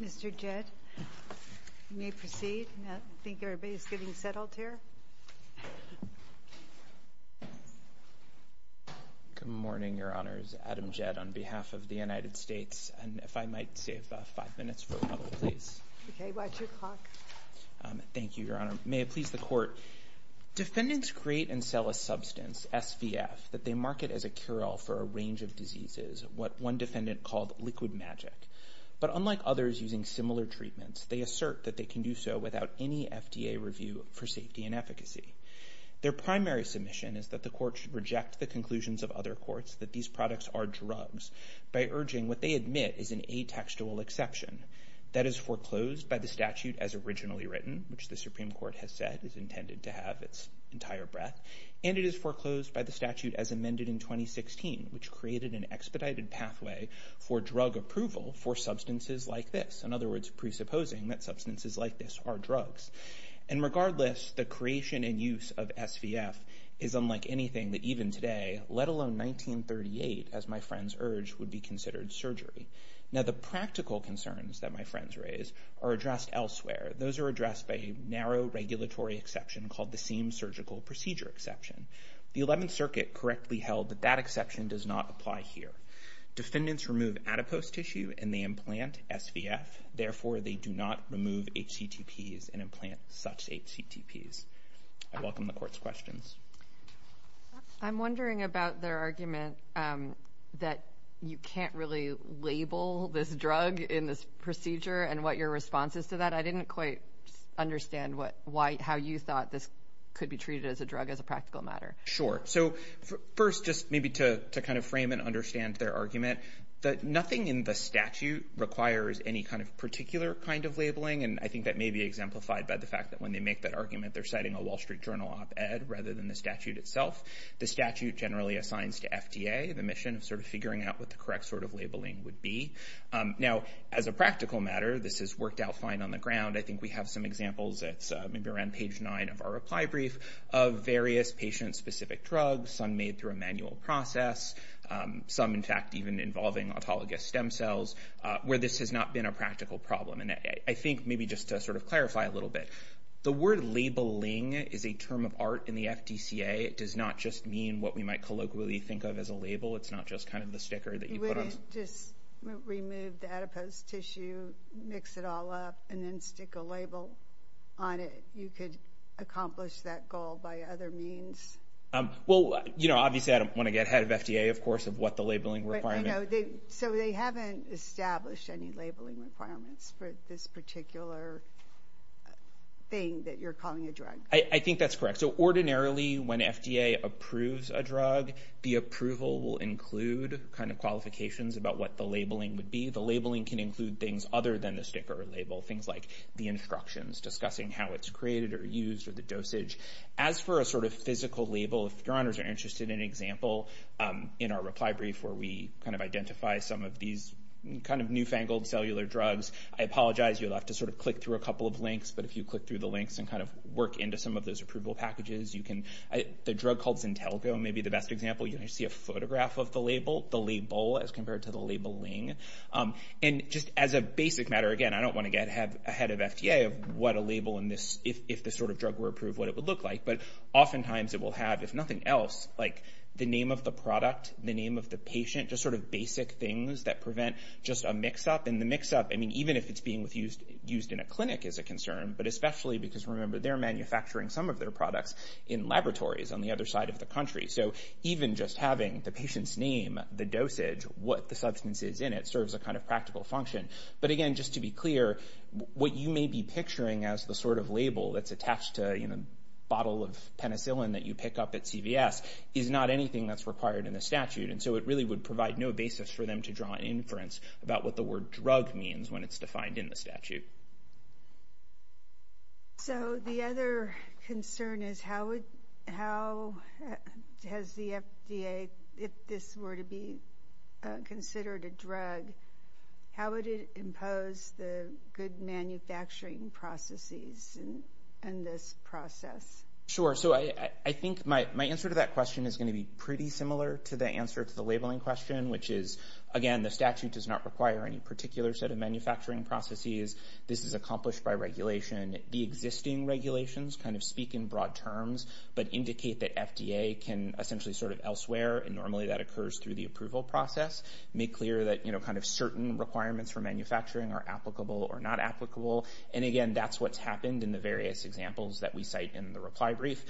Mr. Jett, you may proceed. I think everybody is getting settled here. Good morning, Your Honors. Adam Jett on behalf of the United States. And if I might save five minutes for a couple of things. OK, watch your clock. Thank you, Your Honor. May it please the Court. Defendants create and sell a substance, SVF, that they market as a cure-all for a range of diseases, what one defendant called liquid magic. But unlike others using similar treatments, they assert that they can do so without any FDA review for safety and efficacy. Their primary submission is that the Court should reject the conclusions of other courts that these products are drugs by urging what they admit is an atextual exception. That is foreclosed by the statute as originally written, which the Supreme Court has said is intended to have its entire breadth. And it is foreclosed by the statute as amended in 2016, which created an expedited pathway for drug approval for substances like this. In other words, presupposing that substances like this are drugs. And regardless, the creation and use of SVF is unlike anything that even today, let alone 1938, as my friends urged, would be considered surgery. Now, the practical concerns that my friends raise are addressed elsewhere. Those are addressed by a narrow regulatory exception called the Seam Surgical Procedure Exception. The 11th Circuit correctly held that that exception does not apply here. Defendants remove adipose tissue and they implant SVF. Therefore, they do not remove HCTPs and implant such HCTPs. I welcome the Court's questions. I'm wondering about their argument that you can't really label this drug in this procedure and what your response is to that. I didn't quite understand how you thought this could be treated as a drug as a practical matter. Sure, so first, just maybe to kind of frame and understand their argument, that nothing in the statute requires any kind of particular kind of labeling. And I think that may be exemplified by the fact that when they make that argument, they're citing a Wall Street Journal op-ed rather than the statute itself. The statute generally assigns to FDA the mission of sort of figuring out what the correct sort of labeling would be. Now, as a practical matter, this has worked out fine on the ground. I think we have some examples, it's maybe around page nine of our reply brief, of various patient-specific drugs, some made through a manual process, some, in fact, even involving autologous stem cells, where this has not been a practical problem. And I think maybe just to sort of clarify a little bit, the word labeling is a term of art in the FDCA. It does not just mean what we might colloquially think of as a label. It's not just kind of the sticker that you put on. You wouldn't just remove the adipose tissue, mix it all up, and then stick a label on it. You could accomplish that goal by other means. Well, obviously, I don't want to get ahead of FDA, of course, of what the labeling requirement. So they haven't established any labeling requirements for this particular thing that you're calling a drug? I think that's correct. So ordinarily, when FDA approves a drug, the approval will include kind of qualifications about what the labeling would be. The labeling can include things other than the sticker label, things like the instructions, discussing how it's created or used, or the dosage. As for a sort of physical label, if your honors are interested in an example, in our reply brief where we kind of identify some of these kind of newfangled cellular drugs, I apologize, you'll have to sort of click through a couple of links, but if you click through the links and kind of work into some of those approval packages, the drug called Zintelco may be the best example. You'll see a photograph of the label, the label as compared to the labeling. And just as a basic matter, again, I don't want to get ahead of FDA of what a label in this, if this sort of drug were approved, what it would look like, but oftentimes it will have, if nothing else, like the name of the product, the name of the patient, just sort of basic things that prevent just a mix-up. And the mix-up, I mean, even if it's being used in a clinic is a concern, but especially because remember, they're manufacturing some of their products in laboratories on the other side of the country. So even just having the patient's name, the dosage, what the substance is in it serves a kind of practical function. But again, just to be clear, what you may be picturing as the sort of label that's attached to a bottle of penicillin that you pick up at CVS is not anything that's required in the statute. And so it really would provide no basis for them to draw inference about what the word drug means when it's defined in the statute. So the other concern is how has the FDA, if this were to be considered a drug, how would it impose the good manufacturing processes in this process? Sure, so I think my answer to that question is gonna be pretty similar to the answer to the labeling question, which is, again, the statute does not require any particular set of manufacturing processes. This is accomplished by regulation. The existing regulations kind of speak in broad terms, but indicate that FDA can essentially sort of elsewhere, and normally that occurs through the approval process, make clear that kind of certain requirements for manufacturing are applicable or not applicable. And again, that's what's happened in the various examples that we cite in the reply brief.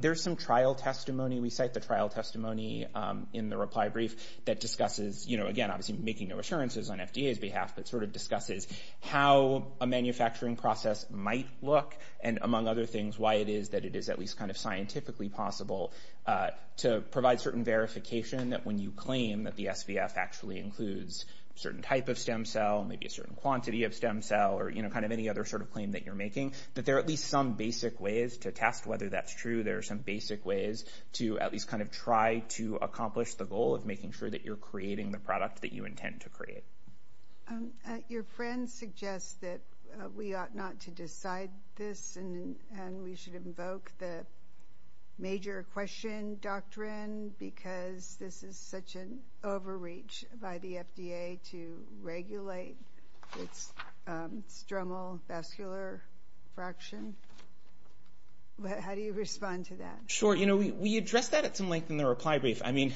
There's some trial testimony we cite, the trial testimony in the reply brief that discusses, again, obviously making no assurances on FDA's behalf, but sort of discusses how a manufacturing process might look, and among other things, why it is that it is at least kind of scientifically possible to provide certain verification that when you claim that the SVF actually includes a certain type of stem cell, maybe a certain quantity of stem cell, or kind of any other sort of claim that you're making, that there are at least some basic ways to test whether that's true. There are some basic ways to at least kind of try to accomplish the goal of making sure that you're creating the product that you intend to create. Your friend suggests that we ought not to decide this, and we should invoke the major question doctrine, because this is such an overreach by the FDA to regulate its stromal vascular fraction. How do you respond to that? Sure, you know, we addressed that at some length in the reply brief. I mean,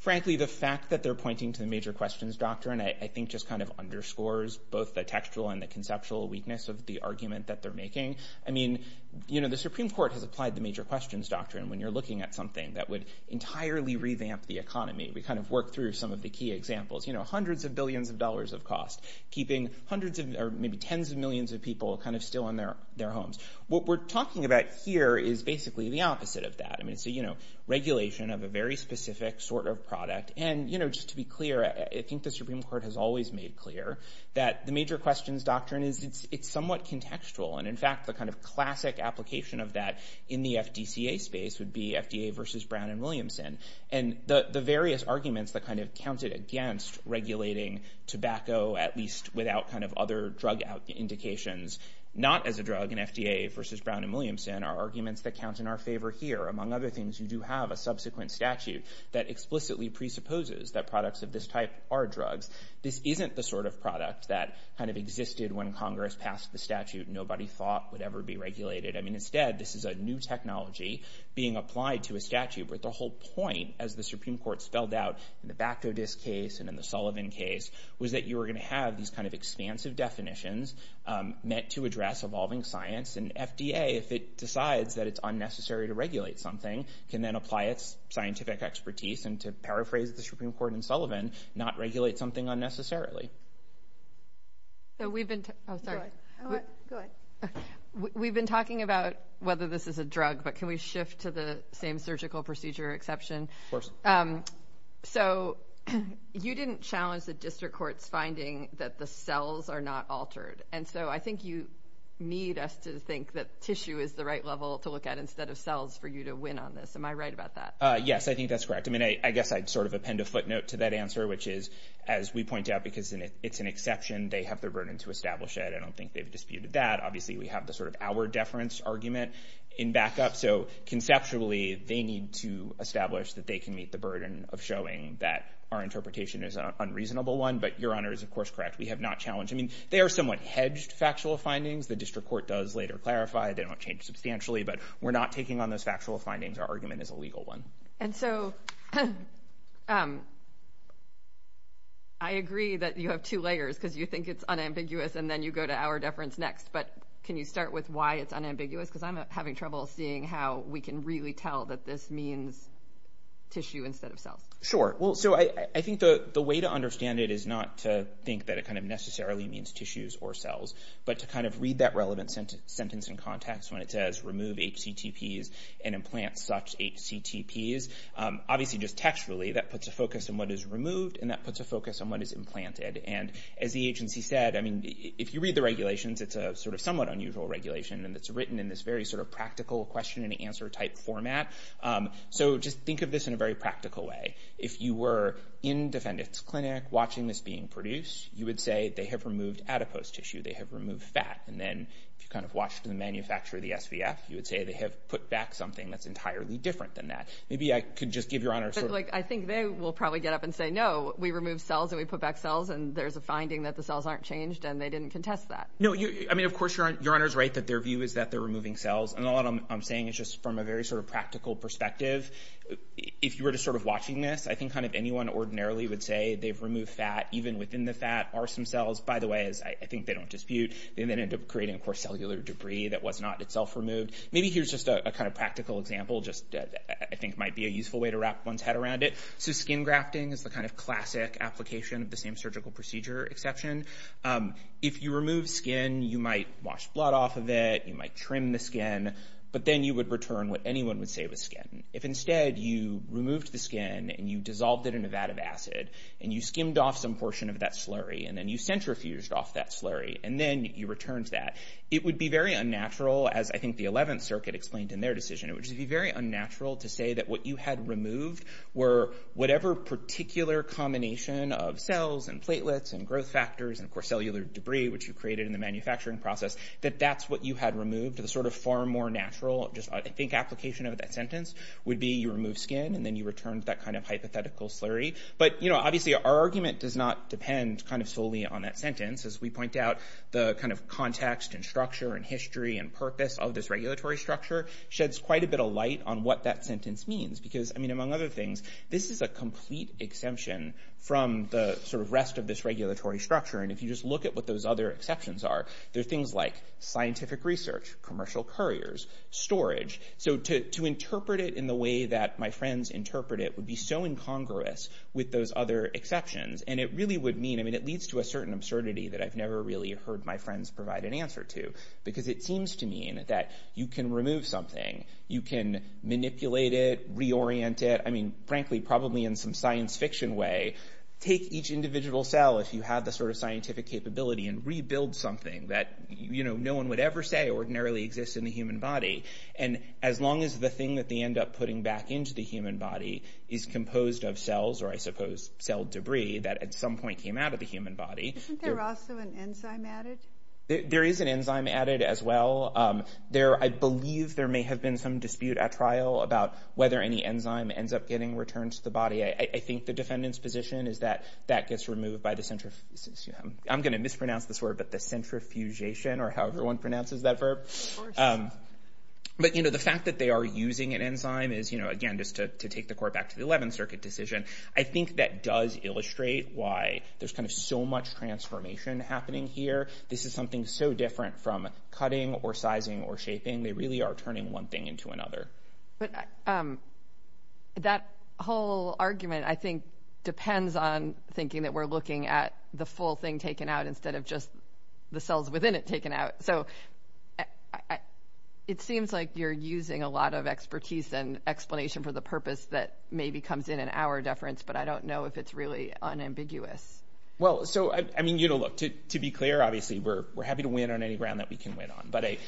frankly, the fact that they're pointing to the major questions doctrine, I think just kind of underscores both the textual and the conceptual weakness of the argument that they're making. I mean, you know, the Supreme Court has applied the major questions doctrine when you're looking at something that would entirely revamp the economy. We kind of worked through some of the key examples, you know, hundreds of billions of dollars of cost, keeping hundreds of, or maybe tens of millions of people kind of still in their homes. What we're talking about here is basically the opposite of that. I mean, it's a, you know, regulation of a very specific sort of product. And, you know, just to be clear, I think the Supreme Court has always made clear that the major questions doctrine is it's somewhat contextual. And in fact, the kind of classic application of that in the FDCA space would be FDA versus Brown and Williamson. And the various arguments that kind of counted against regulating tobacco, at least without kind of other drug indications, not as a drug in FDA versus Brown and Williamson are arguments that count in our favor here. Among other things, you do have a subsequent statute that explicitly presupposes that products of this type are drugs. This isn't the sort of product that kind of existed when Congress passed the statute and nobody thought would ever be regulated. I mean, instead, this is a new technology being applied to a statute. But the whole point, as the Supreme Court spelled out in the Bactodist case and in the Sullivan case, was that you were gonna have these kind of expansive definitions meant to address evolving science. And FDA, if it decides that it's unnecessary to regulate something, can then apply its scientific expertise and to paraphrase the Supreme Court in Sullivan, not regulate something unnecessarily. So we've been, oh, sorry. Go ahead. We've been talking about whether this is a drug, but can we shift to the same surgical procedure exception? Of course. So you didn't challenge the district court's finding that the cells are not altered. And so I think you need us to think that tissue is the right level to look at instead of cells for you to win on this. Am I right about that? Yes, I think that's correct. I mean, I guess I'd sort of append a footnote to that answer, which is, as we point out, because it's an exception, they have the burden to establish it. I don't think they've disputed that. Obviously, we have the sort of our deference argument in backup. So conceptually, they need to establish that they can meet the burden of showing that our interpretation is an unreasonable one. But your honor is, of course, correct. We have not challenged. I mean, they are somewhat hedged factual findings. The district court does later clarify. They don't change substantially, but we're not taking on those factual findings. Our argument is a legal one. And so I agree that you have two layers because you think it's unambiguous and then you go to our deference next. But can you start with why it's unambiguous? Because I'm having trouble seeing how we can really tell that this means tissue instead of cells. Sure. Well, so I think the way to understand it is not to think that it kind of necessarily means tissues or cells, but to kind of read that relevant sentence in context when it says remove HCTPs and implant such HCTPs. Obviously, just textually, that puts a focus on what is removed and that puts a focus on what is implanted. And as the agency said, I mean, if you read the regulations, it's a sort of somewhat unusual regulation and it's written in this very sort of practical question and answer type format. So just think of this in a very practical way. If you were in defendant's clinic watching this being produced, you would say they have removed adipose tissue, they have removed fat. And then if you kind of watched the manufacturer, the SVF, you would say they have put back something that's entirely different than that. Maybe I could just give your honors. I think they will probably get up and say, no, we removed cells and we put back cells. And there's a finding that the cells aren't changed and they didn't contest that. No, I mean, of course your honor's right that their view is that they're removing cells. And all I'm saying is just from a very sort of practical perspective, if you were just sort of watching this, I think kind of anyone ordinarily would say they've removed fat, even within the fat are some cells, by the way, as I think they don't dispute. They then end up creating, of course, cellular debris that was not itself removed. Maybe here's just a kind of practical example, just I think might be a useful way to wrap one's head around it. So skin grafting is the kind of classic application of the same surgical procedure exception. If you remove skin, you might wash blood off of it, you might trim the skin, but then you would return what anyone would say was skin. If instead you removed the skin and you dissolved it in a vat of acid and you skimmed off some portion of that slurry and then you centrifuged off that slurry and then you returned that, it would be very unnatural, as I think the 11th Circuit explained in their decision. It would just be very unnatural to say that what you had removed were whatever particular combination of cells and platelets and growth factors and, of course, cellular debris, which you created in the manufacturing process, that that's what you had removed. The sort of far more natural, just I think application of that sentence would be you remove skin and then you returned that kind of hypothetical slurry. But obviously, our argument does not depend kind of solely on that sentence. As we point out, the kind of context and structure and history and purpose of this regulatory structure sheds quite a bit of light on what that sentence means because, I mean, among other things, this is a complete exemption from the sort of rest of this regulatory structure and if you just look at what those other exceptions are, there are things like scientific research, commercial couriers, storage. So to interpret it in the way that my friends interpret it would be so incongruous with those other exceptions and it really would mean, I mean, it leads to a certain absurdity that I've never really heard my friends provide an answer to because it seems to mean that you can remove something, you can manipulate it, reorient it, I mean, frankly, probably in some science fiction way, take each individual cell, if you have the sort of scientific capability and rebuild something that, you know, no one would ever say ordinarily exists in the human body and as long as the thing that they end up putting back into the human body is composed of cells or I suppose cell debris that at some point came out of the human body. Isn't there also an enzyme added? There is an enzyme added as well. I believe there may have been some dispute at trial about whether any enzyme ends up getting returned to the body. I think the defendant's position is that that gets removed by the, I'm gonna mispronounce this word, but the centrifugation or however one pronounces that verb. But, you know, the fact that they are using an enzyme is, you know, again, just to take the court back to the 11th Circuit decision, I think that does illustrate why there's kind of so much transformation happening here. This is something so different from cutting or sizing or shaping. They really are turning one thing into another. But that whole argument, I think, depends on thinking that we're looking at the full thing taken out instead of just the cells within it taken out. So it seems like you're using a lot of expertise and explanation for the purpose that maybe comes in an hour deference, but I don't know if it's really unambiguous. Well, so, I mean, you know, look, to be clear, obviously we're happy to win on any round that we can win on, but I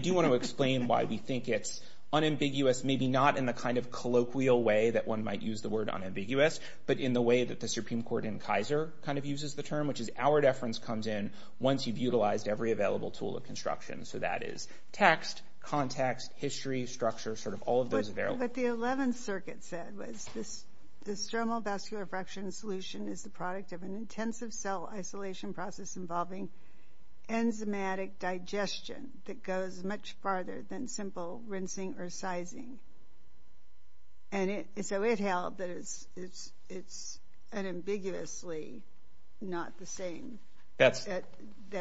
do want to explain why we think it's unambiguous, maybe not in the kind of colloquial way that one might use the word unambiguous, but in the way that the Supreme Court in Kaiser kind of uses the term, which is hour deference comes in once you've utilized every available tool of construction. So that is text, context, history, structure, sort of all of those available. But what the 11th Circuit said was this stromal vascular fraction solution is the product of an intensive cell isolation process involving enzymatic digestion that goes much farther than simple rinsing or sizing. And so it held that it's unambiguously not the same. That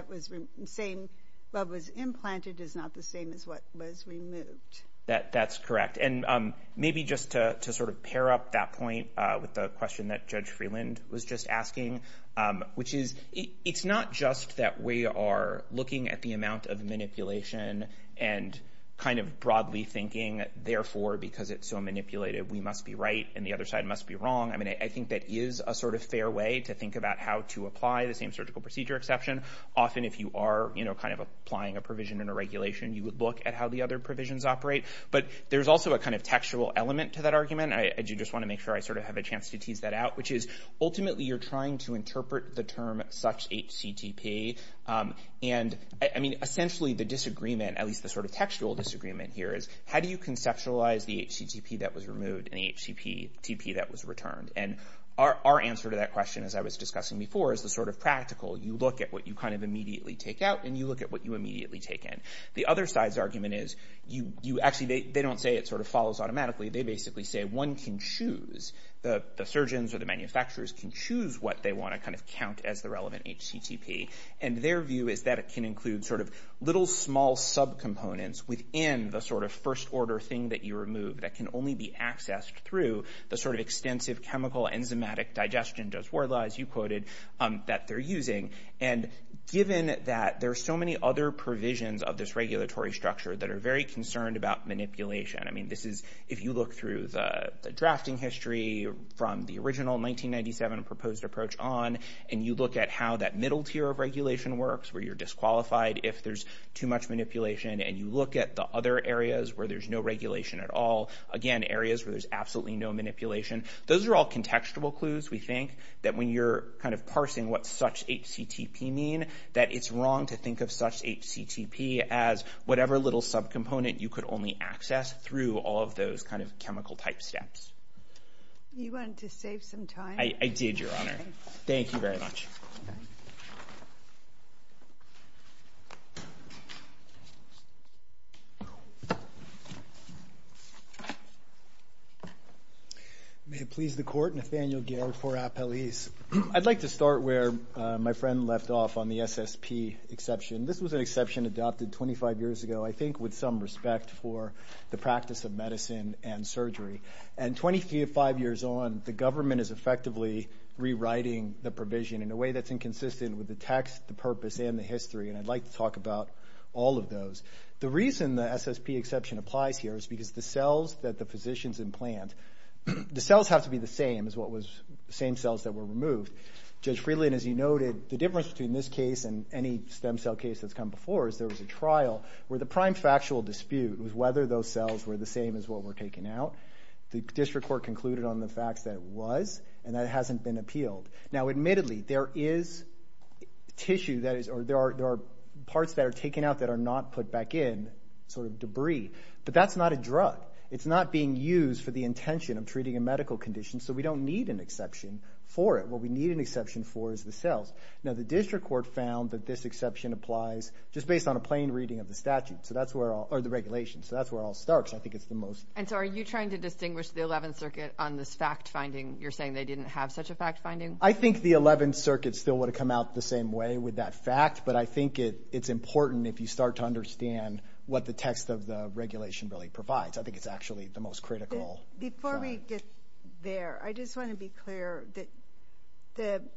was the same, what was implanted is not the same as what was removed. That's correct. And maybe just to sort of pair up that point with the question that Judge Freeland was just asking, which is, it's not just that we are looking at the amount of manipulation and kind of broadly thinking, therefore, because it's so manipulated, we must be right and the other side must be wrong. I mean, I think that is a sort of fair way to think about how to apply the same surgical procedure exception. Often, if you are kind of applying a provision and a regulation, you would look at how the other provisions operate. But there's also a kind of textual element to that argument. I do just want to make sure I sort of have a chance to tease that out, which is ultimately you're trying to interpret the term such a CTP. And I mean, essentially the disagreement, at least the sort of textual disagreement here is how do you conceptualize the HCTP that was removed and the HCTP that was returned? And our answer to that question, as I was discussing before, is the sort of practical, you look at what you kind of immediately take out and you look at what you immediately take in. The other side's argument is you actually, they don't say it sort of follows automatically. They basically say one can choose, the surgeons or the manufacturers can choose what they want to kind of count as the relevant HCTP. And their view is that it can include sort of little small subcomponents within the sort of first order thing that you remove that can only be accessed through the sort of extensive chemical enzymatic digestion, just wordless, you quoted, that they're using. And given that there are so many other provisions of this regulatory structure that are very concerned about manipulation. I mean, this is, if you look through the drafting history from the original 1997 proposed approach on, and you look at how that middle tier of regulation works, where you're disqualified if there's too much manipulation, and you look at the other areas where there's no regulation at all. Again, areas where there's absolutely no manipulation. Those are all contextual clues, we think, that when you're kind of parsing what such HCTP mean, that it's wrong to think of such HCTP as whatever little subcomponent you could only access through all of those kind of chemical type steps. You wanted to save some time? I did, Your Honor. Thank you very much. May it please the Court, Nathaniel Garrett for appellees. I'd like to start where my friend left off on the SSP exception. This was an exception adopted 25 years ago, I think with some respect for the practice of medicine and surgery. 25 years on, the government is effectively rewriting the provision in a way that's inconsistent with the text, the purpose, and the history, and I'd like to talk about all of those. The reason the SSP exception applies here is because the cells that the physicians implant, the cells have to be the same as what was the same cells that were removed. Judge Friedland, as you noted, the difference between this case and any stem cell case that's come before is there was a trial where the prime factual dispute was whether those cells were the same as what were taken out. The district court concluded on the facts that it was, and that it hasn't been appealed. Now, admittedly, there is tissue that is, or there are parts that are taken out that are not put back in, sort of debris, but that's not a drug. It's not being used for the intention of treating a medical condition, so we don't need an exception for it. What we need an exception for is the cells. Now, the district court found that this exception applies just based on a plain reading of the statute, so that's where all, or the regulation, so that's where it all starts. I think it's the most... And so, are you trying to distinguish the 11th Circuit on this fact-finding? You're saying they didn't have such a fact-finding? I think the 11th Circuit still would've come out the same way with that fact, but I think it's important if you start to understand what the text of the regulation really provides. I think it's actually the most critical trial. Before we get there, I just wanna be clear that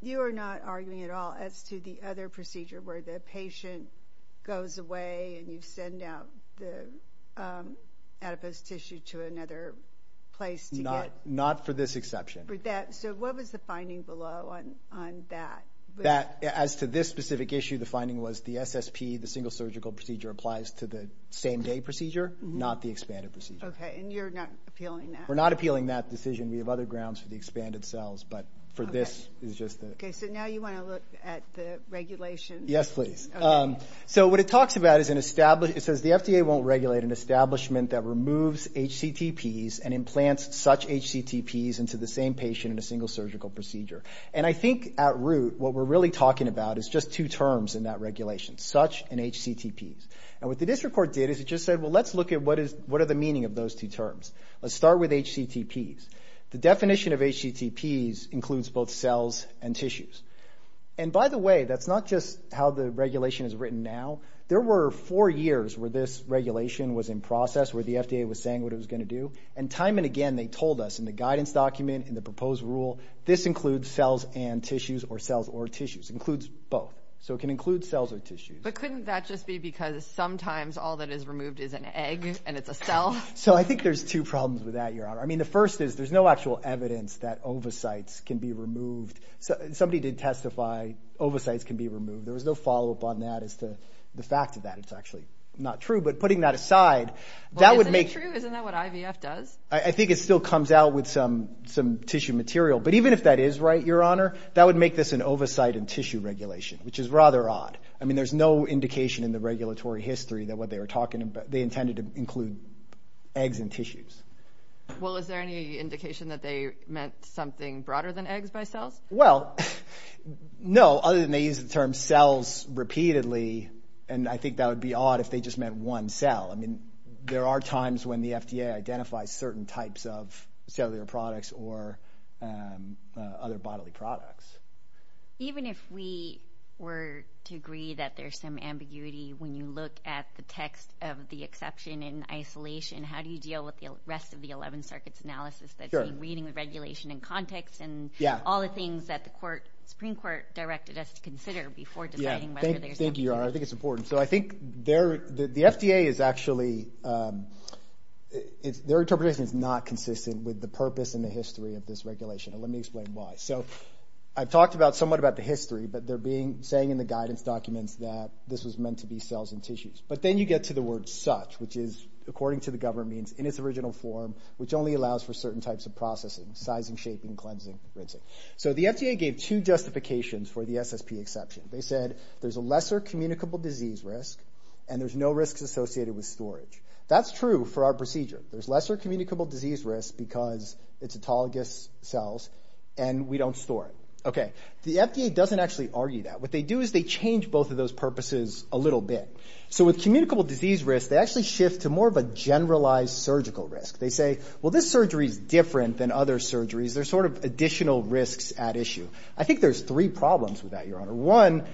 you are not arguing at all as to the other procedure where the patient goes away and you send out the adipose tissue to another place to get... Not for this exception. So, what was the finding below on that? As to this specific issue, the finding was the SSP, the single surgical procedure, applies to the same-day procedure, not the expanded procedure. Okay, and you're not appealing that? We're not appealing that decision. We have other grounds for the expanded cells, but for this, it's just the... Okay, so now you wanna look at the regulation? Yes, please. So, what it talks about is an established... It says the FDA won't regulate an establishment that removes HCTPs and implants such HCTPs into the same patient in a single surgical procedure. And I think at root, what we're really talking about is just two terms in that regulation, such and HCTPs. And what the district court did is it just said, well, let's look at what are the meaning of those two terms. Let's start with HCTPs. The definition of HCTPs includes both cells and tissues. And by the way, that's not just how the regulation is written now. There were four years where this regulation was in process, where the FDA was saying what it was gonna do. And time and again, they told us in the guidance document, in the proposed rule, this includes cells and tissues or cells or tissues. Includes both. So it can include cells or tissues. But couldn't that just be because sometimes all that is removed is an egg and it's a cell? So I think there's two problems with that, Your Honor. I mean, the first is there's no actual evidence that ovocytes can be removed. Somebody did testify ovocytes can be removed. There was no follow-up on that as to the fact of that. It's actually not true. But putting that aside, that would make- Well, isn't it true? Isn't that what IVF does? I think it still comes out with some tissue material. But even if that is right, Your Honor, that would make this an ovocyte and tissue regulation, which is rather odd. I mean, there's no indication in the regulatory history that what they were talking about, they intended to include eggs and tissues. Well, is there any indication that they meant something broader than eggs by cells? Well, no, other than they use the term cells repeatedly. And I think that would be odd if they just meant one cell. I mean, there are times when the FDA identifies certain types of cellular products or other bodily products. Even if we were to agree that there's some ambiguity, when you look at the text of the exception in isolation, how do you deal with the rest of the 11 circuits analysis that seem reading the regulation in context and all the things that the Supreme Court directed us to consider before deciding whether there's- Thank you, Your Honor, I think it's important. So I think the FDA is actually, their interpretation is not consistent with the purpose and the history of this regulation, and let me explain why. So I've talked somewhat about the history, but they're saying in the guidance documents that this was meant to be cells and tissues. But then you get to the word such, which is, according to the government, means in its original form, which only allows for certain types of processing, sizing, shaping, cleansing, rinsing. So the FDA gave two justifications for the SSP exception. They said there's a lesser communicable disease risk, and there's no risks associated with storage. That's true for our procedure. There's lesser communicable disease risk because it's autologous cells, and we don't store it. Okay, the FDA doesn't actually argue that. What they do is they change both of those purposes a little bit. So with communicable disease risk, they actually shift to more of a generalized surgical risk. They say, well, this surgery's different than other surgeries. There's sort of additional risks at issue. I think there's three problems with that, Your Honor. One,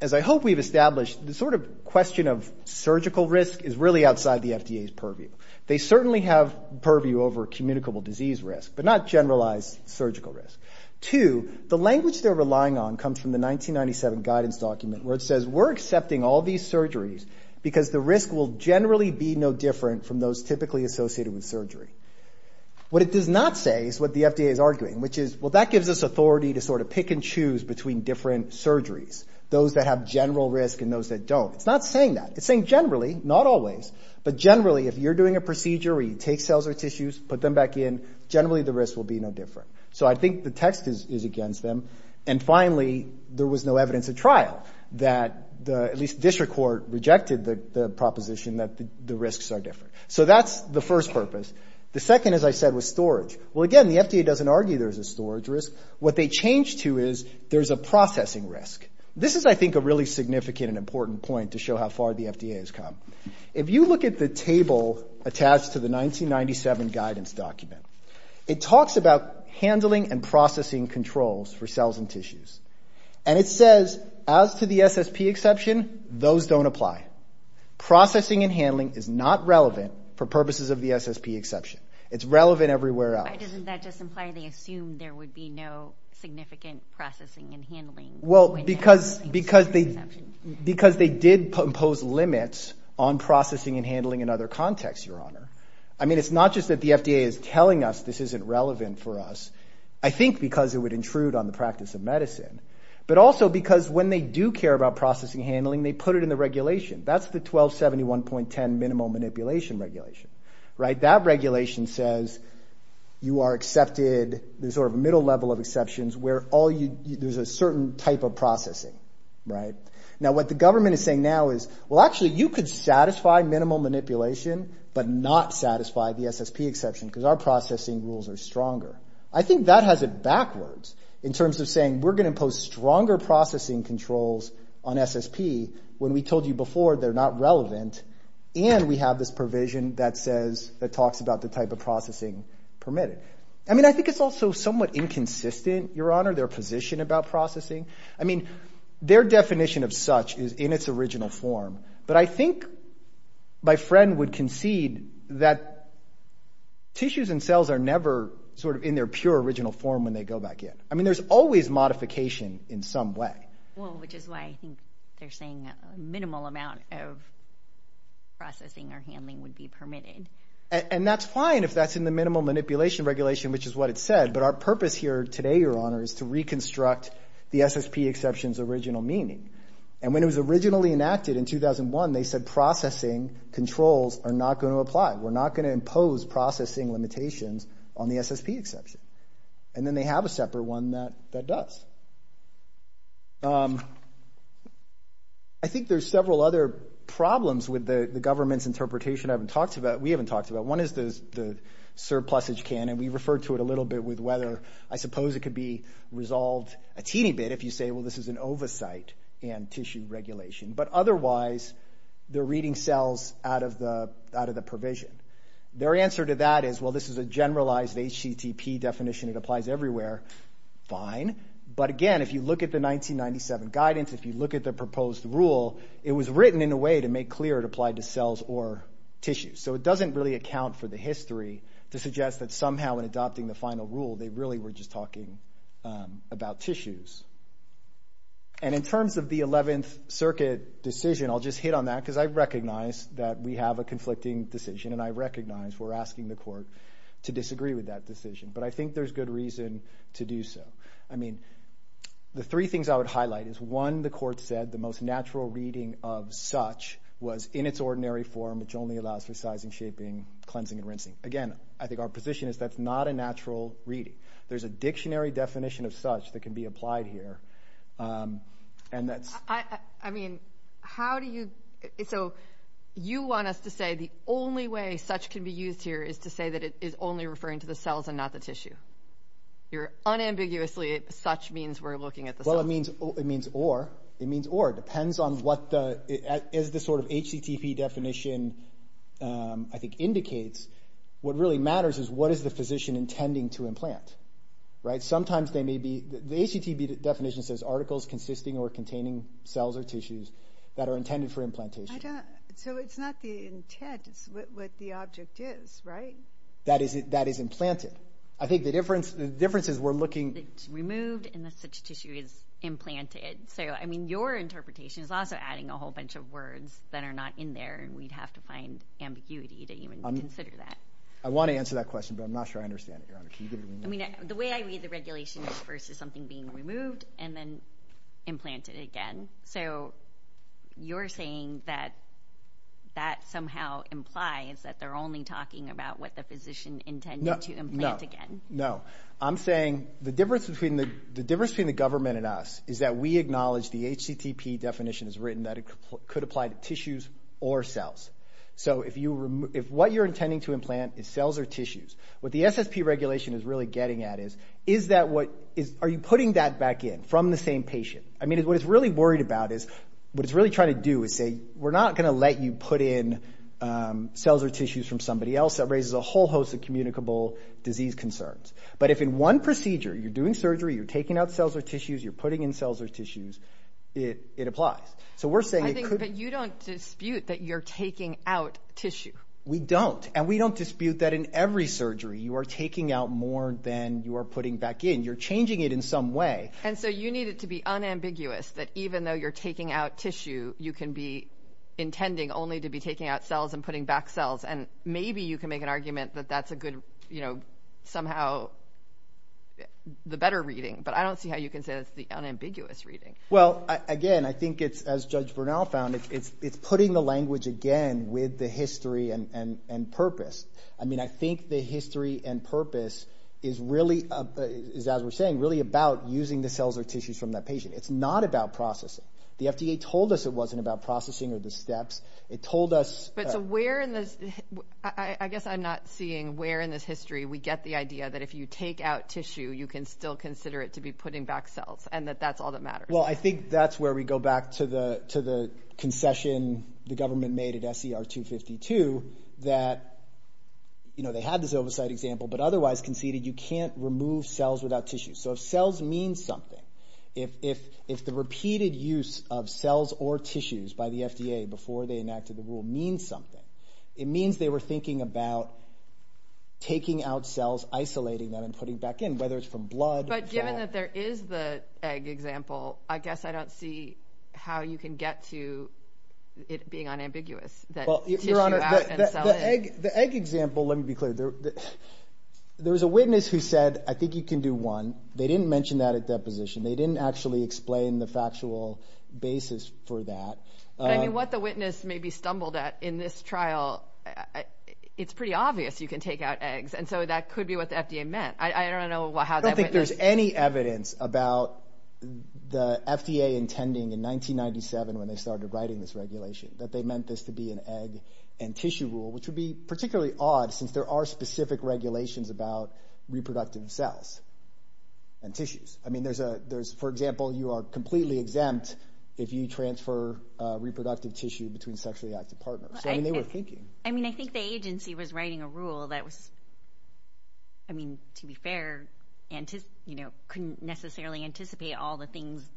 as I hope we've established, the sort of question of surgical risk is really outside the FDA's purview. They certainly have purview over communicable disease risk, but not generalized surgical risk. Two, the language they're relying on comes from the 1997 guidance document where it says we're accepting all these surgeries because the risk will generally be no different from those typically associated with surgery. What it does not say is what the FDA is arguing, which is, well, that gives us authority to sort of pick and choose between different surgeries, those that have general risk and those that don't. It's not saying that. It's saying generally, not always, but generally, if you're doing a procedure where you take cells or tissues, put them back in, generally the risk will be no different. So I think the text is against them. And finally, there was no evidence at trial that at least district court rejected the proposition that the risks are different. So that's the first purpose. The second, as I said, was storage. Well, again, the FDA doesn't argue there's a storage risk. What they change to is there's a processing risk. This is, I think, a really significant and important point to show how far the FDA has come. If you look at the table attached to the 1997 guidance document, it talks about handling and processing controls for cells and tissues. And it says, as to the SSP exception, those don't apply. Processing and handling is not relevant for purposes of the SSP exception. It's relevant everywhere else. Why doesn't that just imply they assume there would be no significant processing and handling when there's an SSP exception? Because they did impose limits on processing and handling in other contexts, Your Honor. I mean, it's not just that the FDA is telling us this isn't relevant for us. I think because it would intrude on the practice of medicine. But also because when they do care about processing and handling, they put it in the regulation. That's the 1271.10 Minimal Manipulation Regulation, right? That regulation says you are accepted, there's sort of a middle level of exceptions where there's a certain type of processing, right? Now, what the government is saying now is, well, actually, you could satisfy minimal manipulation, but not satisfy the SSP exception because our processing rules are stronger. I think that has it backwards in terms of saying we're going to impose stronger processing controls on SSP when we told you before they're not relevant. And we have this provision that says, that talks about the type of processing permitted. I mean, I think it's also somewhat inconsistent, Your Honor, their position about processing. I mean, their definition of such is in its original form. But I think my friend would concede that tissues and cells are never sort of in their pure original form when they go back in. I mean, there's always modification in some way. Well, which is why I think they're saying a minimal amount of processing or handling would be permitted. And that's fine if that's in the Minimal Manipulation Regulation, which is what it said. But our purpose here today, Your Honor, is to reconstruct the SSP exception's original meaning. And when it was originally enacted in 2001, they said processing controls are not going to apply. We're not going to impose processing limitations on the SSP exception. And then they have a separate one that does. I think there's several other problems with the government's interpretation I haven't talked about, we haven't talked about. One is the surplusage canon. We referred to it a little bit with whether I suppose it could be resolved a teeny bit if you say, well, this is an oversight and tissue regulation. But otherwise, they're reading cells out of the provision. Their answer to that is, well, this is a generalized HCTP definition. It applies everywhere. Fine. But again, if you look at the 1997 guidance, if you look at the proposed rule, it was written in a way to make clear it applied to cells or tissues. So it doesn't really account for the history to suggest that somehow in adopting the final rule, they really were just talking about tissues. And in terms of the 11th Circuit decision, I'll just hit on that, because I recognize that we have a conflicting decision, and I recognize we're asking the court to disagree with that decision. But I think there's good reason to do so. I mean, the three things I would highlight is one, the court said the most natural reading of such was in its ordinary form, which only allows for sizing, shaping, cleansing, and rinsing. Again, I think our position is that's not a natural reading. There's a dictionary definition of such that can be applied here. And that's... I mean, how do you... So you want us to say the only way such can be used here is to say that it is only referring to the cells and not the tissue. You're unambiguously, such means we're looking at the cells. Well, it means or. It means or. Depends on what the... As the sort of HCTP definition, I think, indicates, what really matters is what is the physician intending to implant, right? Sometimes they may be... The HCTP definition says articles consisting or containing cells or tissues that are intended for implantation. So it's not the intent, it's what the object is, right? That is implanted. I think the difference is we're looking... Removed unless such tissue is implanted. So, I mean, your interpretation is also adding a whole bunch of words that are not in there, and we'd have to find ambiguity to even consider that. I want to answer that question, but I'm not sure I understand it, Your Honor. Can you give me more? I mean, the way I read the regulation versus something being removed and then implanted again. So you're saying that that somehow implies that they're only talking about what the physician intended to implant again? No, no. I'm saying the difference between the government and us is that we acknowledge the HCTP definition is written that it could apply to tissues or cells. So if what you're intending to implant is cells or tissues, what the SSP regulation is really getting at is, is that what... Are you putting that back in from the same patient? I mean, what it's really worried about is, what it's really trying to do is say, we're not going to let you put in cells or tissues from somebody else. That raises a whole host of communicable disease concerns. But if in one procedure, you're doing surgery, you're taking out cells or tissues, you're putting in cells or tissues, it applies. So we're saying it could... I think that you don't dispute that you're taking out tissue. We don't. And we don't dispute that in every surgery, you are taking out more than you are putting back in. You're changing it in some way. And so you need it to be unambiguous that even though you're taking out tissue, you can be intending only to be taking out cells and putting back cells. And maybe you can make an argument that that's a good... Somehow, the better reading, but I don't see how you can say that's the unambiguous reading. Well, again, I think it's, as Judge Bernal found, it's putting the language again with the history and purpose. I mean, I think the history and purpose is really, is as we're saying, really about using the cells or tissues from that patient. It's not about processing. The FDA told us it wasn't about processing or the steps. It told us- But so where in this, I guess I'm not seeing where in this history we get the idea that if you take out tissue, you can still consider it to be putting back cells and that that's all that matters. Well, I think that's where we go back to the concession the government made at SCR 252 that they had this oversight example, but otherwise conceded you can't remove cells without tissue. So if cells mean something, if the repeated use of cells or tissues by the FDA before they enacted the rule means something, it means they were thinking about taking out cells, isolating them and putting back in, whether it's from blood- But given that there is the egg example, I guess I don't see how you can get to it being unambiguous that tissue out and cell in. The egg example, let me be clear. There was a witness who said, I think you can do one. They didn't mention that at deposition. They didn't actually explain the factual basis for that. I mean, what the witness maybe stumbled at in this trial, it's pretty obvious you can take out eggs. And so that could be what the FDA meant. I don't know how that- I don't think there's any evidence about the FDA intending in 1997, when they started writing this regulation, that they meant this to be an egg and tissue rule, which would be particularly odd since there are specific regulations about reproductive cells and tissues. I mean, for example, you are completely exempt if you transfer reproductive tissue between sexually active partners. So I mean, they were thinking. I mean, I think the agency was writing a rule that was, I mean, to be fair, couldn't necessarily anticipate all the things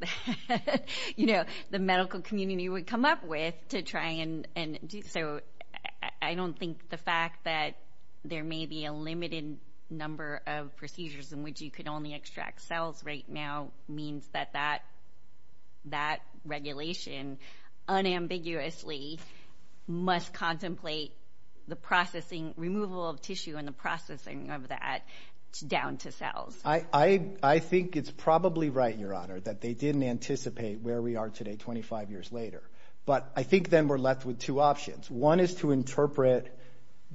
the medical community would come up with to try and do. So I don't think the fact that there may be a limited number of procedures in which you could only extract cells right now means that that regulation unambiguously must contemplate the processing, removal of tissue and the processing of that down to cells. I think it's probably right, Your Honor, that they didn't anticipate where we are today 25 years later. But I think then we're left with two options. One is to interpret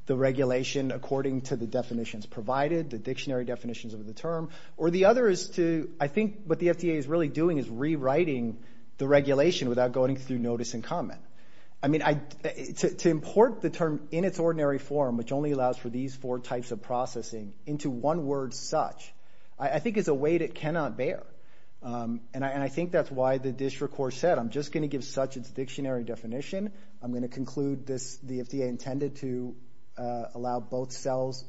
the regulation according to the definitions provided, the dictionary definitions of the term, or the other is to, I think what the FDA is really doing is rewriting the regulation without going through notice and comment. I mean, to import the term in its ordinary form, which only allows for these four types of processing into one word such, I think is a weight it cannot bear. And I think that's why the district court said, I'm just gonna give such its dictionary definition. I'm gonna conclude this, the FDA intended to allow both cells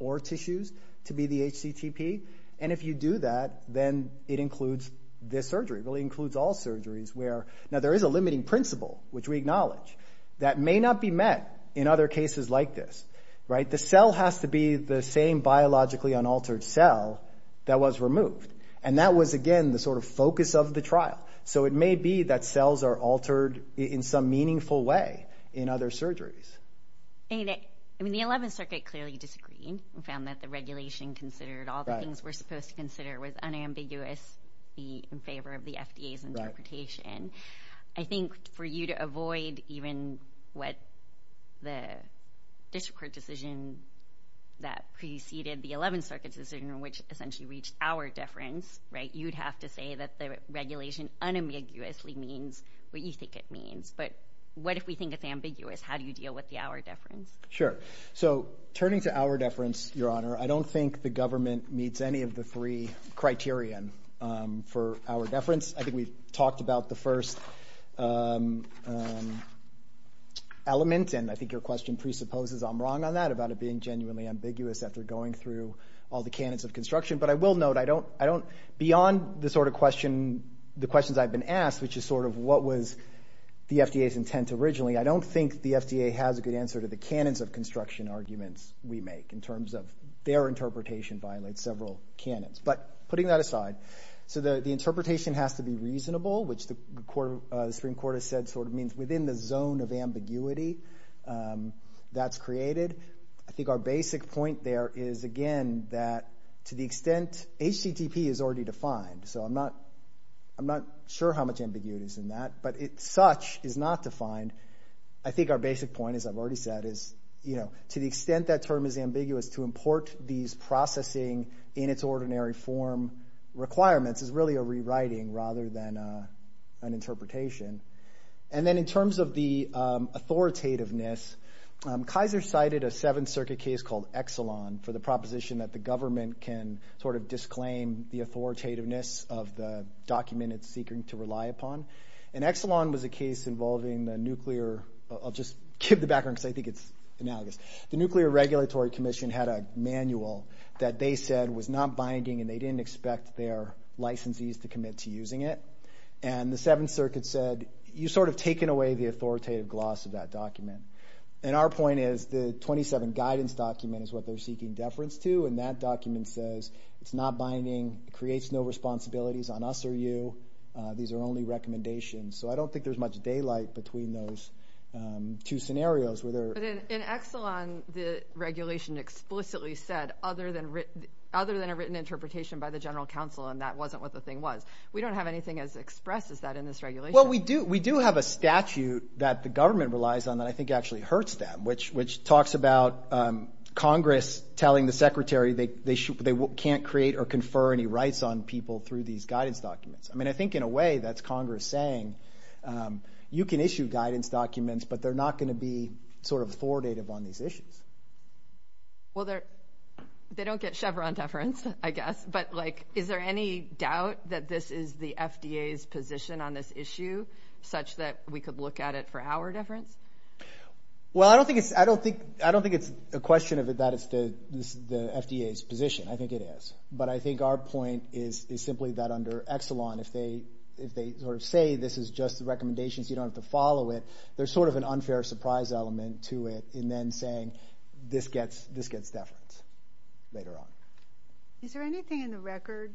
or tissues to be the HCTP. And if you do that, then it includes this surgery, really includes all surgeries where, now there is a limiting principle, which we acknowledge, that may not be met in other cases like this, right? The cell has to be the same biologically unaltered cell that was removed. And that was, again, the sort of focus of the trial. So it may be that cells are altered in some meaningful way in other surgeries. And I mean, the 11th Circuit clearly disagreed and found that the regulation considered all the things we're supposed to consider was unambiguous in favor of the FDA's interpretation. I think for you to avoid even what the district court decision that preceded the 11th Circuit's decision, which essentially reached our deference, right? You'd have to say that the regulation unambiguously means what you think it means. But what if we think it's ambiguous? How do you deal with the our deference? Sure. So turning to our deference, Your Honor, I don't think the government meets any of the three criterion for our deference. I think we've talked about the first element, and I think your question presupposes I'm wrong on that, about it being genuinely ambiguous after going through all the canons of construction. But I will note, I don't, beyond the sort of question, the questions I've been asked, which is sort of what was the FDA's intent originally, I don't think the FDA has a good answer to the canons of construction arguments we make in terms of their interpretation violates several canons. But putting that aside, so the interpretation has to be reasonable, which the Supreme Court has said sort of means within the zone of ambiguity that's created. I think our basic point there is, again, that to the extent, HTTP is already defined, so I'm not sure how much ambiguity is in that, but such is not defined. I think our basic point, as I've already said, is to the extent that term is ambiguous, to import these processing in its ordinary form requirements is really a rewriting rather than an interpretation. And then in terms of the authoritativeness, for the proposition that the government can sort of disclaim the authoritativeness of the document it's seeking to rely upon. And Exelon was a case involving the nuclear, I'll just give the background, because I think it's analogous. The Nuclear Regulatory Commission had a manual that they said was not binding and they didn't expect their licensees to commit to using it. And the Seventh Circuit said, you've sort of taken away the authoritative gloss of that document. And our point is the 27 guidance document is what they're seeking deference to, and that document says it's not binding, creates no responsibilities on us or you. These are only recommendations. So I don't think there's much daylight between those two scenarios. In Exelon, the regulation explicitly said, other than a written interpretation by the general counsel, and that wasn't what the thing was. We don't have anything as expressed as that in this regulation. Well, we do have a statute that the government relies on that I think actually hurts them, which talks about Congress telling the Secretary they can't create or confer any rights on people through these guidance documents. I mean, I think in a way that's Congress saying, you can issue guidance documents, but they're not gonna be sort of authoritative on these issues. Well, they don't get Chevron deference, I guess, but is there any doubt that this is the FDA's position on this issue such that we could look at it for our deference? Well, I don't think it's a question that it's the FDA's position. I think it is. But I think our point is simply that under Exelon, if they sort of say this is just the recommendations, you don't have to follow it, there's sort of an unfair surprise element to it in then saying, this gets deference later on. Is there anything in the record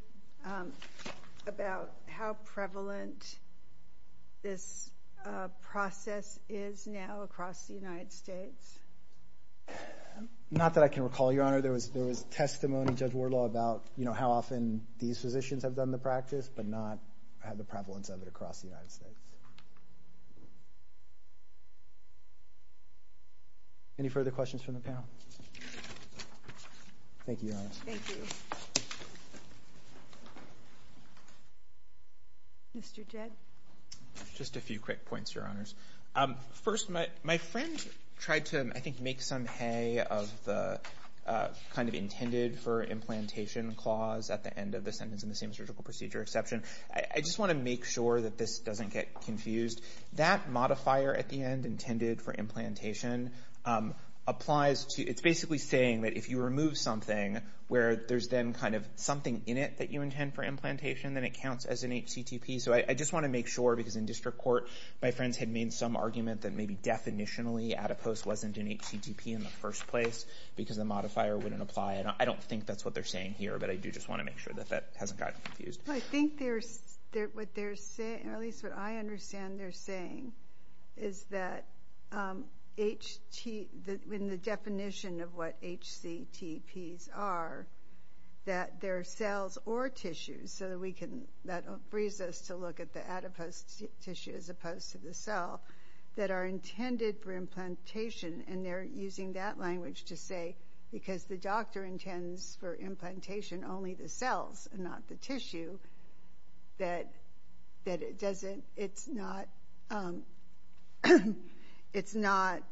about how prevalent this process is now? Across the United States? Not that I can recall, Your Honor. There was testimony, Judge Wardlaw, about how often these physicians have done the practice, but not had the prevalence of it across the United States. Any further questions from the panel? Thank you, Your Honor. Thank you. Mr. Jed. Just a few quick points, Your Honors. First, my friend tried to, I think, make some hay of the kind of intended for implantation clause at the end of the sentence in the same surgical procedure exception. I just want to make sure that this doesn't get confused. That modifier at the end, intended for implantation, applies to, it's basically saying that if you remove something where there's then kind of something in it that you intend for implantation, then it counts as an HCTP. So I just want to make sure, because in district court, my friends had made some argument that maybe definitionally adipose wasn't an HCTP in the first place, because the modifier wouldn't apply. And I don't think that's what they're saying here, but I do just want to make sure that that hasn't gotten confused. Well, I think what they're saying, or at least what I understand they're saying, is that in the definition of what HCTPs are, that they're cells or tissues. So that frees us to look at the adipose tissue as opposed to the cell that are intended for implantation. And they're using that language to say, because the doctor intends for implantation only the cells and not the tissue, that it doesn't, it's not, it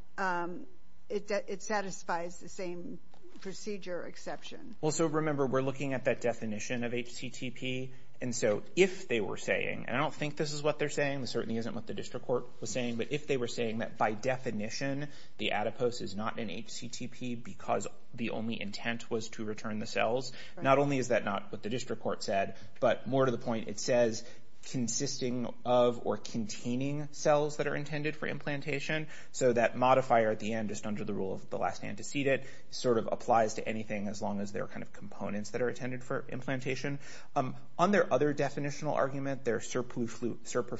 satisfies the same procedure exception. Well, so remember, we're looking at that definition of HCTP. And so if they were saying, and I don't think this is what they're saying, this certainly isn't what the district court was saying, but if they were saying that by definition, the adipose is not an HCTP because the only intent was to return the cells, not only is that not what the district court said, but more to the point, it says consisting of or containing cells that are intended for implantation. So that modifier at the end, just under the rule of the last man to seed it, sort of applies to anything, as long as they're kind of components that are intended for implantation. On their other definitional argument, their surplus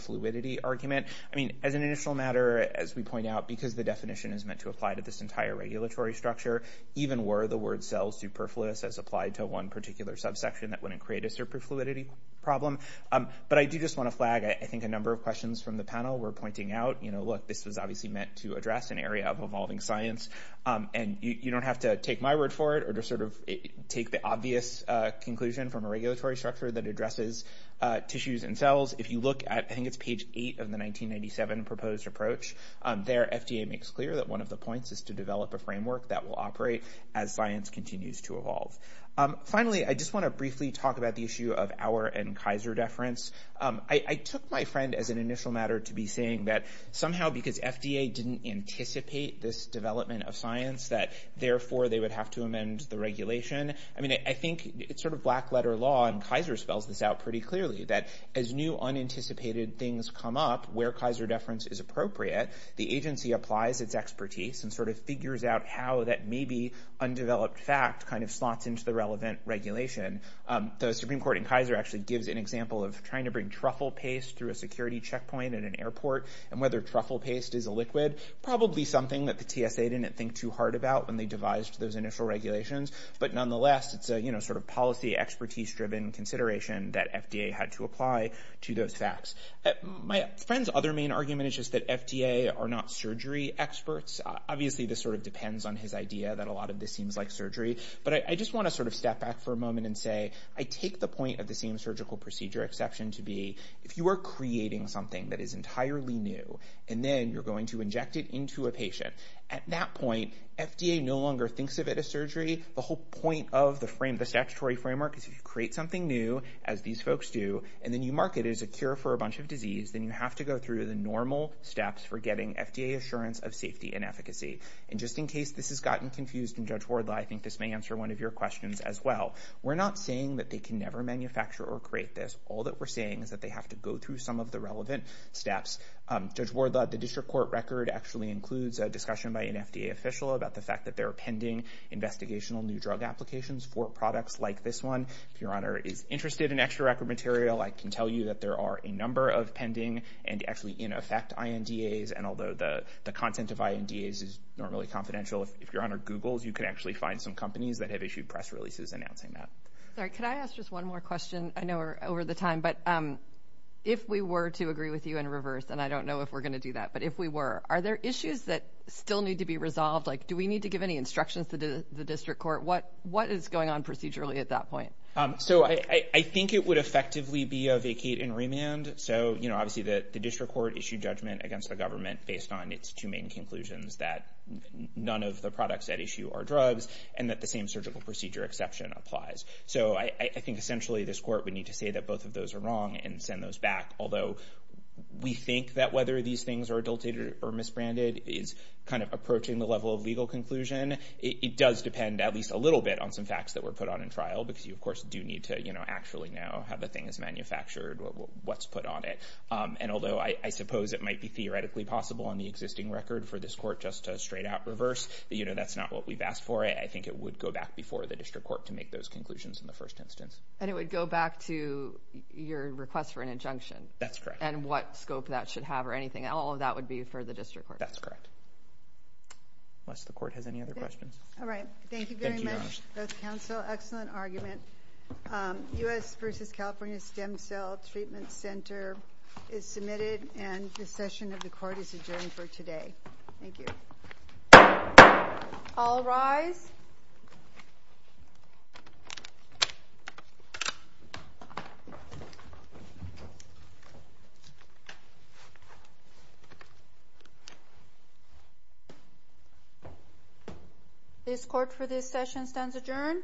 fluidity argument. I mean, as an initial matter, as we point out, because the definition is meant to apply to this entire regulatory structure, even were the word cell superfluous as applied to one particular subsection that wouldn't create a surplus fluidity problem. But I do just want to flag, I think a number of questions from the panel were pointing out, look, this was obviously meant to address an area of evolving science. And you don't have to take my word for it or to sort of take the obvious conclusion from a regulatory structure that addresses tissues and cells. If you look at, I think it's page eight of the 1997 proposed approach, there FDA makes clear that one of the points is to develop a framework that will operate as science continues to evolve. Finally, I just want to briefly talk about the issue of our and Kaiser deference. I took my friend as an initial matter to be saying that somehow because FDA didn't anticipate this development of science, that therefore they would have to amend the regulation. I mean, I think it's sort of black letter law and Kaiser spells this out pretty clearly that as new unanticipated things come up where Kaiser deference is appropriate, the agency applies its expertise and sort of figures out how that maybe undeveloped fact kind of slots into the relevant regulation. The Supreme Court in Kaiser actually gives an example of trying to bring truffle paste through a security checkpoint at an airport and whether truffle paste is a liquid, probably something that the TSA didn't think too hard about when they devised those initial regulations. But nonetheless, it's a sort of policy expertise driven consideration that FDA had to apply to those facts. My friend's other main argument is just that FDA are not surgery experts. Obviously, this sort of depends on his idea that a lot of this seems like surgery. But I just want to sort of step back for a moment and say, I take the point of the same surgical procedure exception to be if you are creating something that is entirely new, and then you're going to inject it into a patient. At that point, FDA no longer thinks of it as surgery. The whole point of the statutory framework is if you create something new, as these folks do, and then you mark it as a cure for a bunch of disease, then you have to go through the normal steps for getting FDA assurance of safety and efficacy. And just in case this has gotten confused in Judge Wardlaw, I think this may answer one of your questions as well. We're not saying that they can never manufacture or create this. All that we're saying is that they have to go through some of the relevant steps. Judge Wardlaw, the district court record actually includes a discussion by an FDA official about the fact that there are pending investigational new drug applications for products like this one. If your honor is interested in extra record material, I can tell you that there are a number of pending and actually in effect INDAs. And although the content of INDAs is not really confidential, if your honor Googles, you can actually find some companies that have issued press releases announcing that. Sorry, could I ask just one more question? I know we're over the time, but if we were to agree with you in reverse, and I don't know if we're going to do that, but if we were, are there issues that still need to be resolved? Like, do we need to give any instructions to the district court? What is going on procedurally at that point? So I think it would effectively be a vacate and remand. So obviously the district court issued judgment against the government based on its two main conclusions that none of the products at issue are drugs and that the same surgical procedure exception applies. So I think essentially this court would need to say that both of those are wrong and send those back. Although we think that whether these things are adulterated or misbranded is kind of approaching the level of legal conclusion. It does depend at least a little bit on some facts that were put on in trial, because you of course do need to actually know how the thing is manufactured, what's put on it. And although I suppose it might be theoretically possible on the existing record for this court just to straight out reverse, you know, that's not what we've asked for. I think it would go back before the district court to make those conclusions in the first instance. And it would go back to your request for an injunction. That's correct. And what scope that should have or anything. All of that would be for the district court. That's correct. Unless the court has any other questions. All right. Thank you very much, both counsel. Excellent argument. U.S. versus California Stem Cell Treatment Center is submitted and the session of the court is adjourned for today. Thank you. All rise. This court for this session stands adjourned.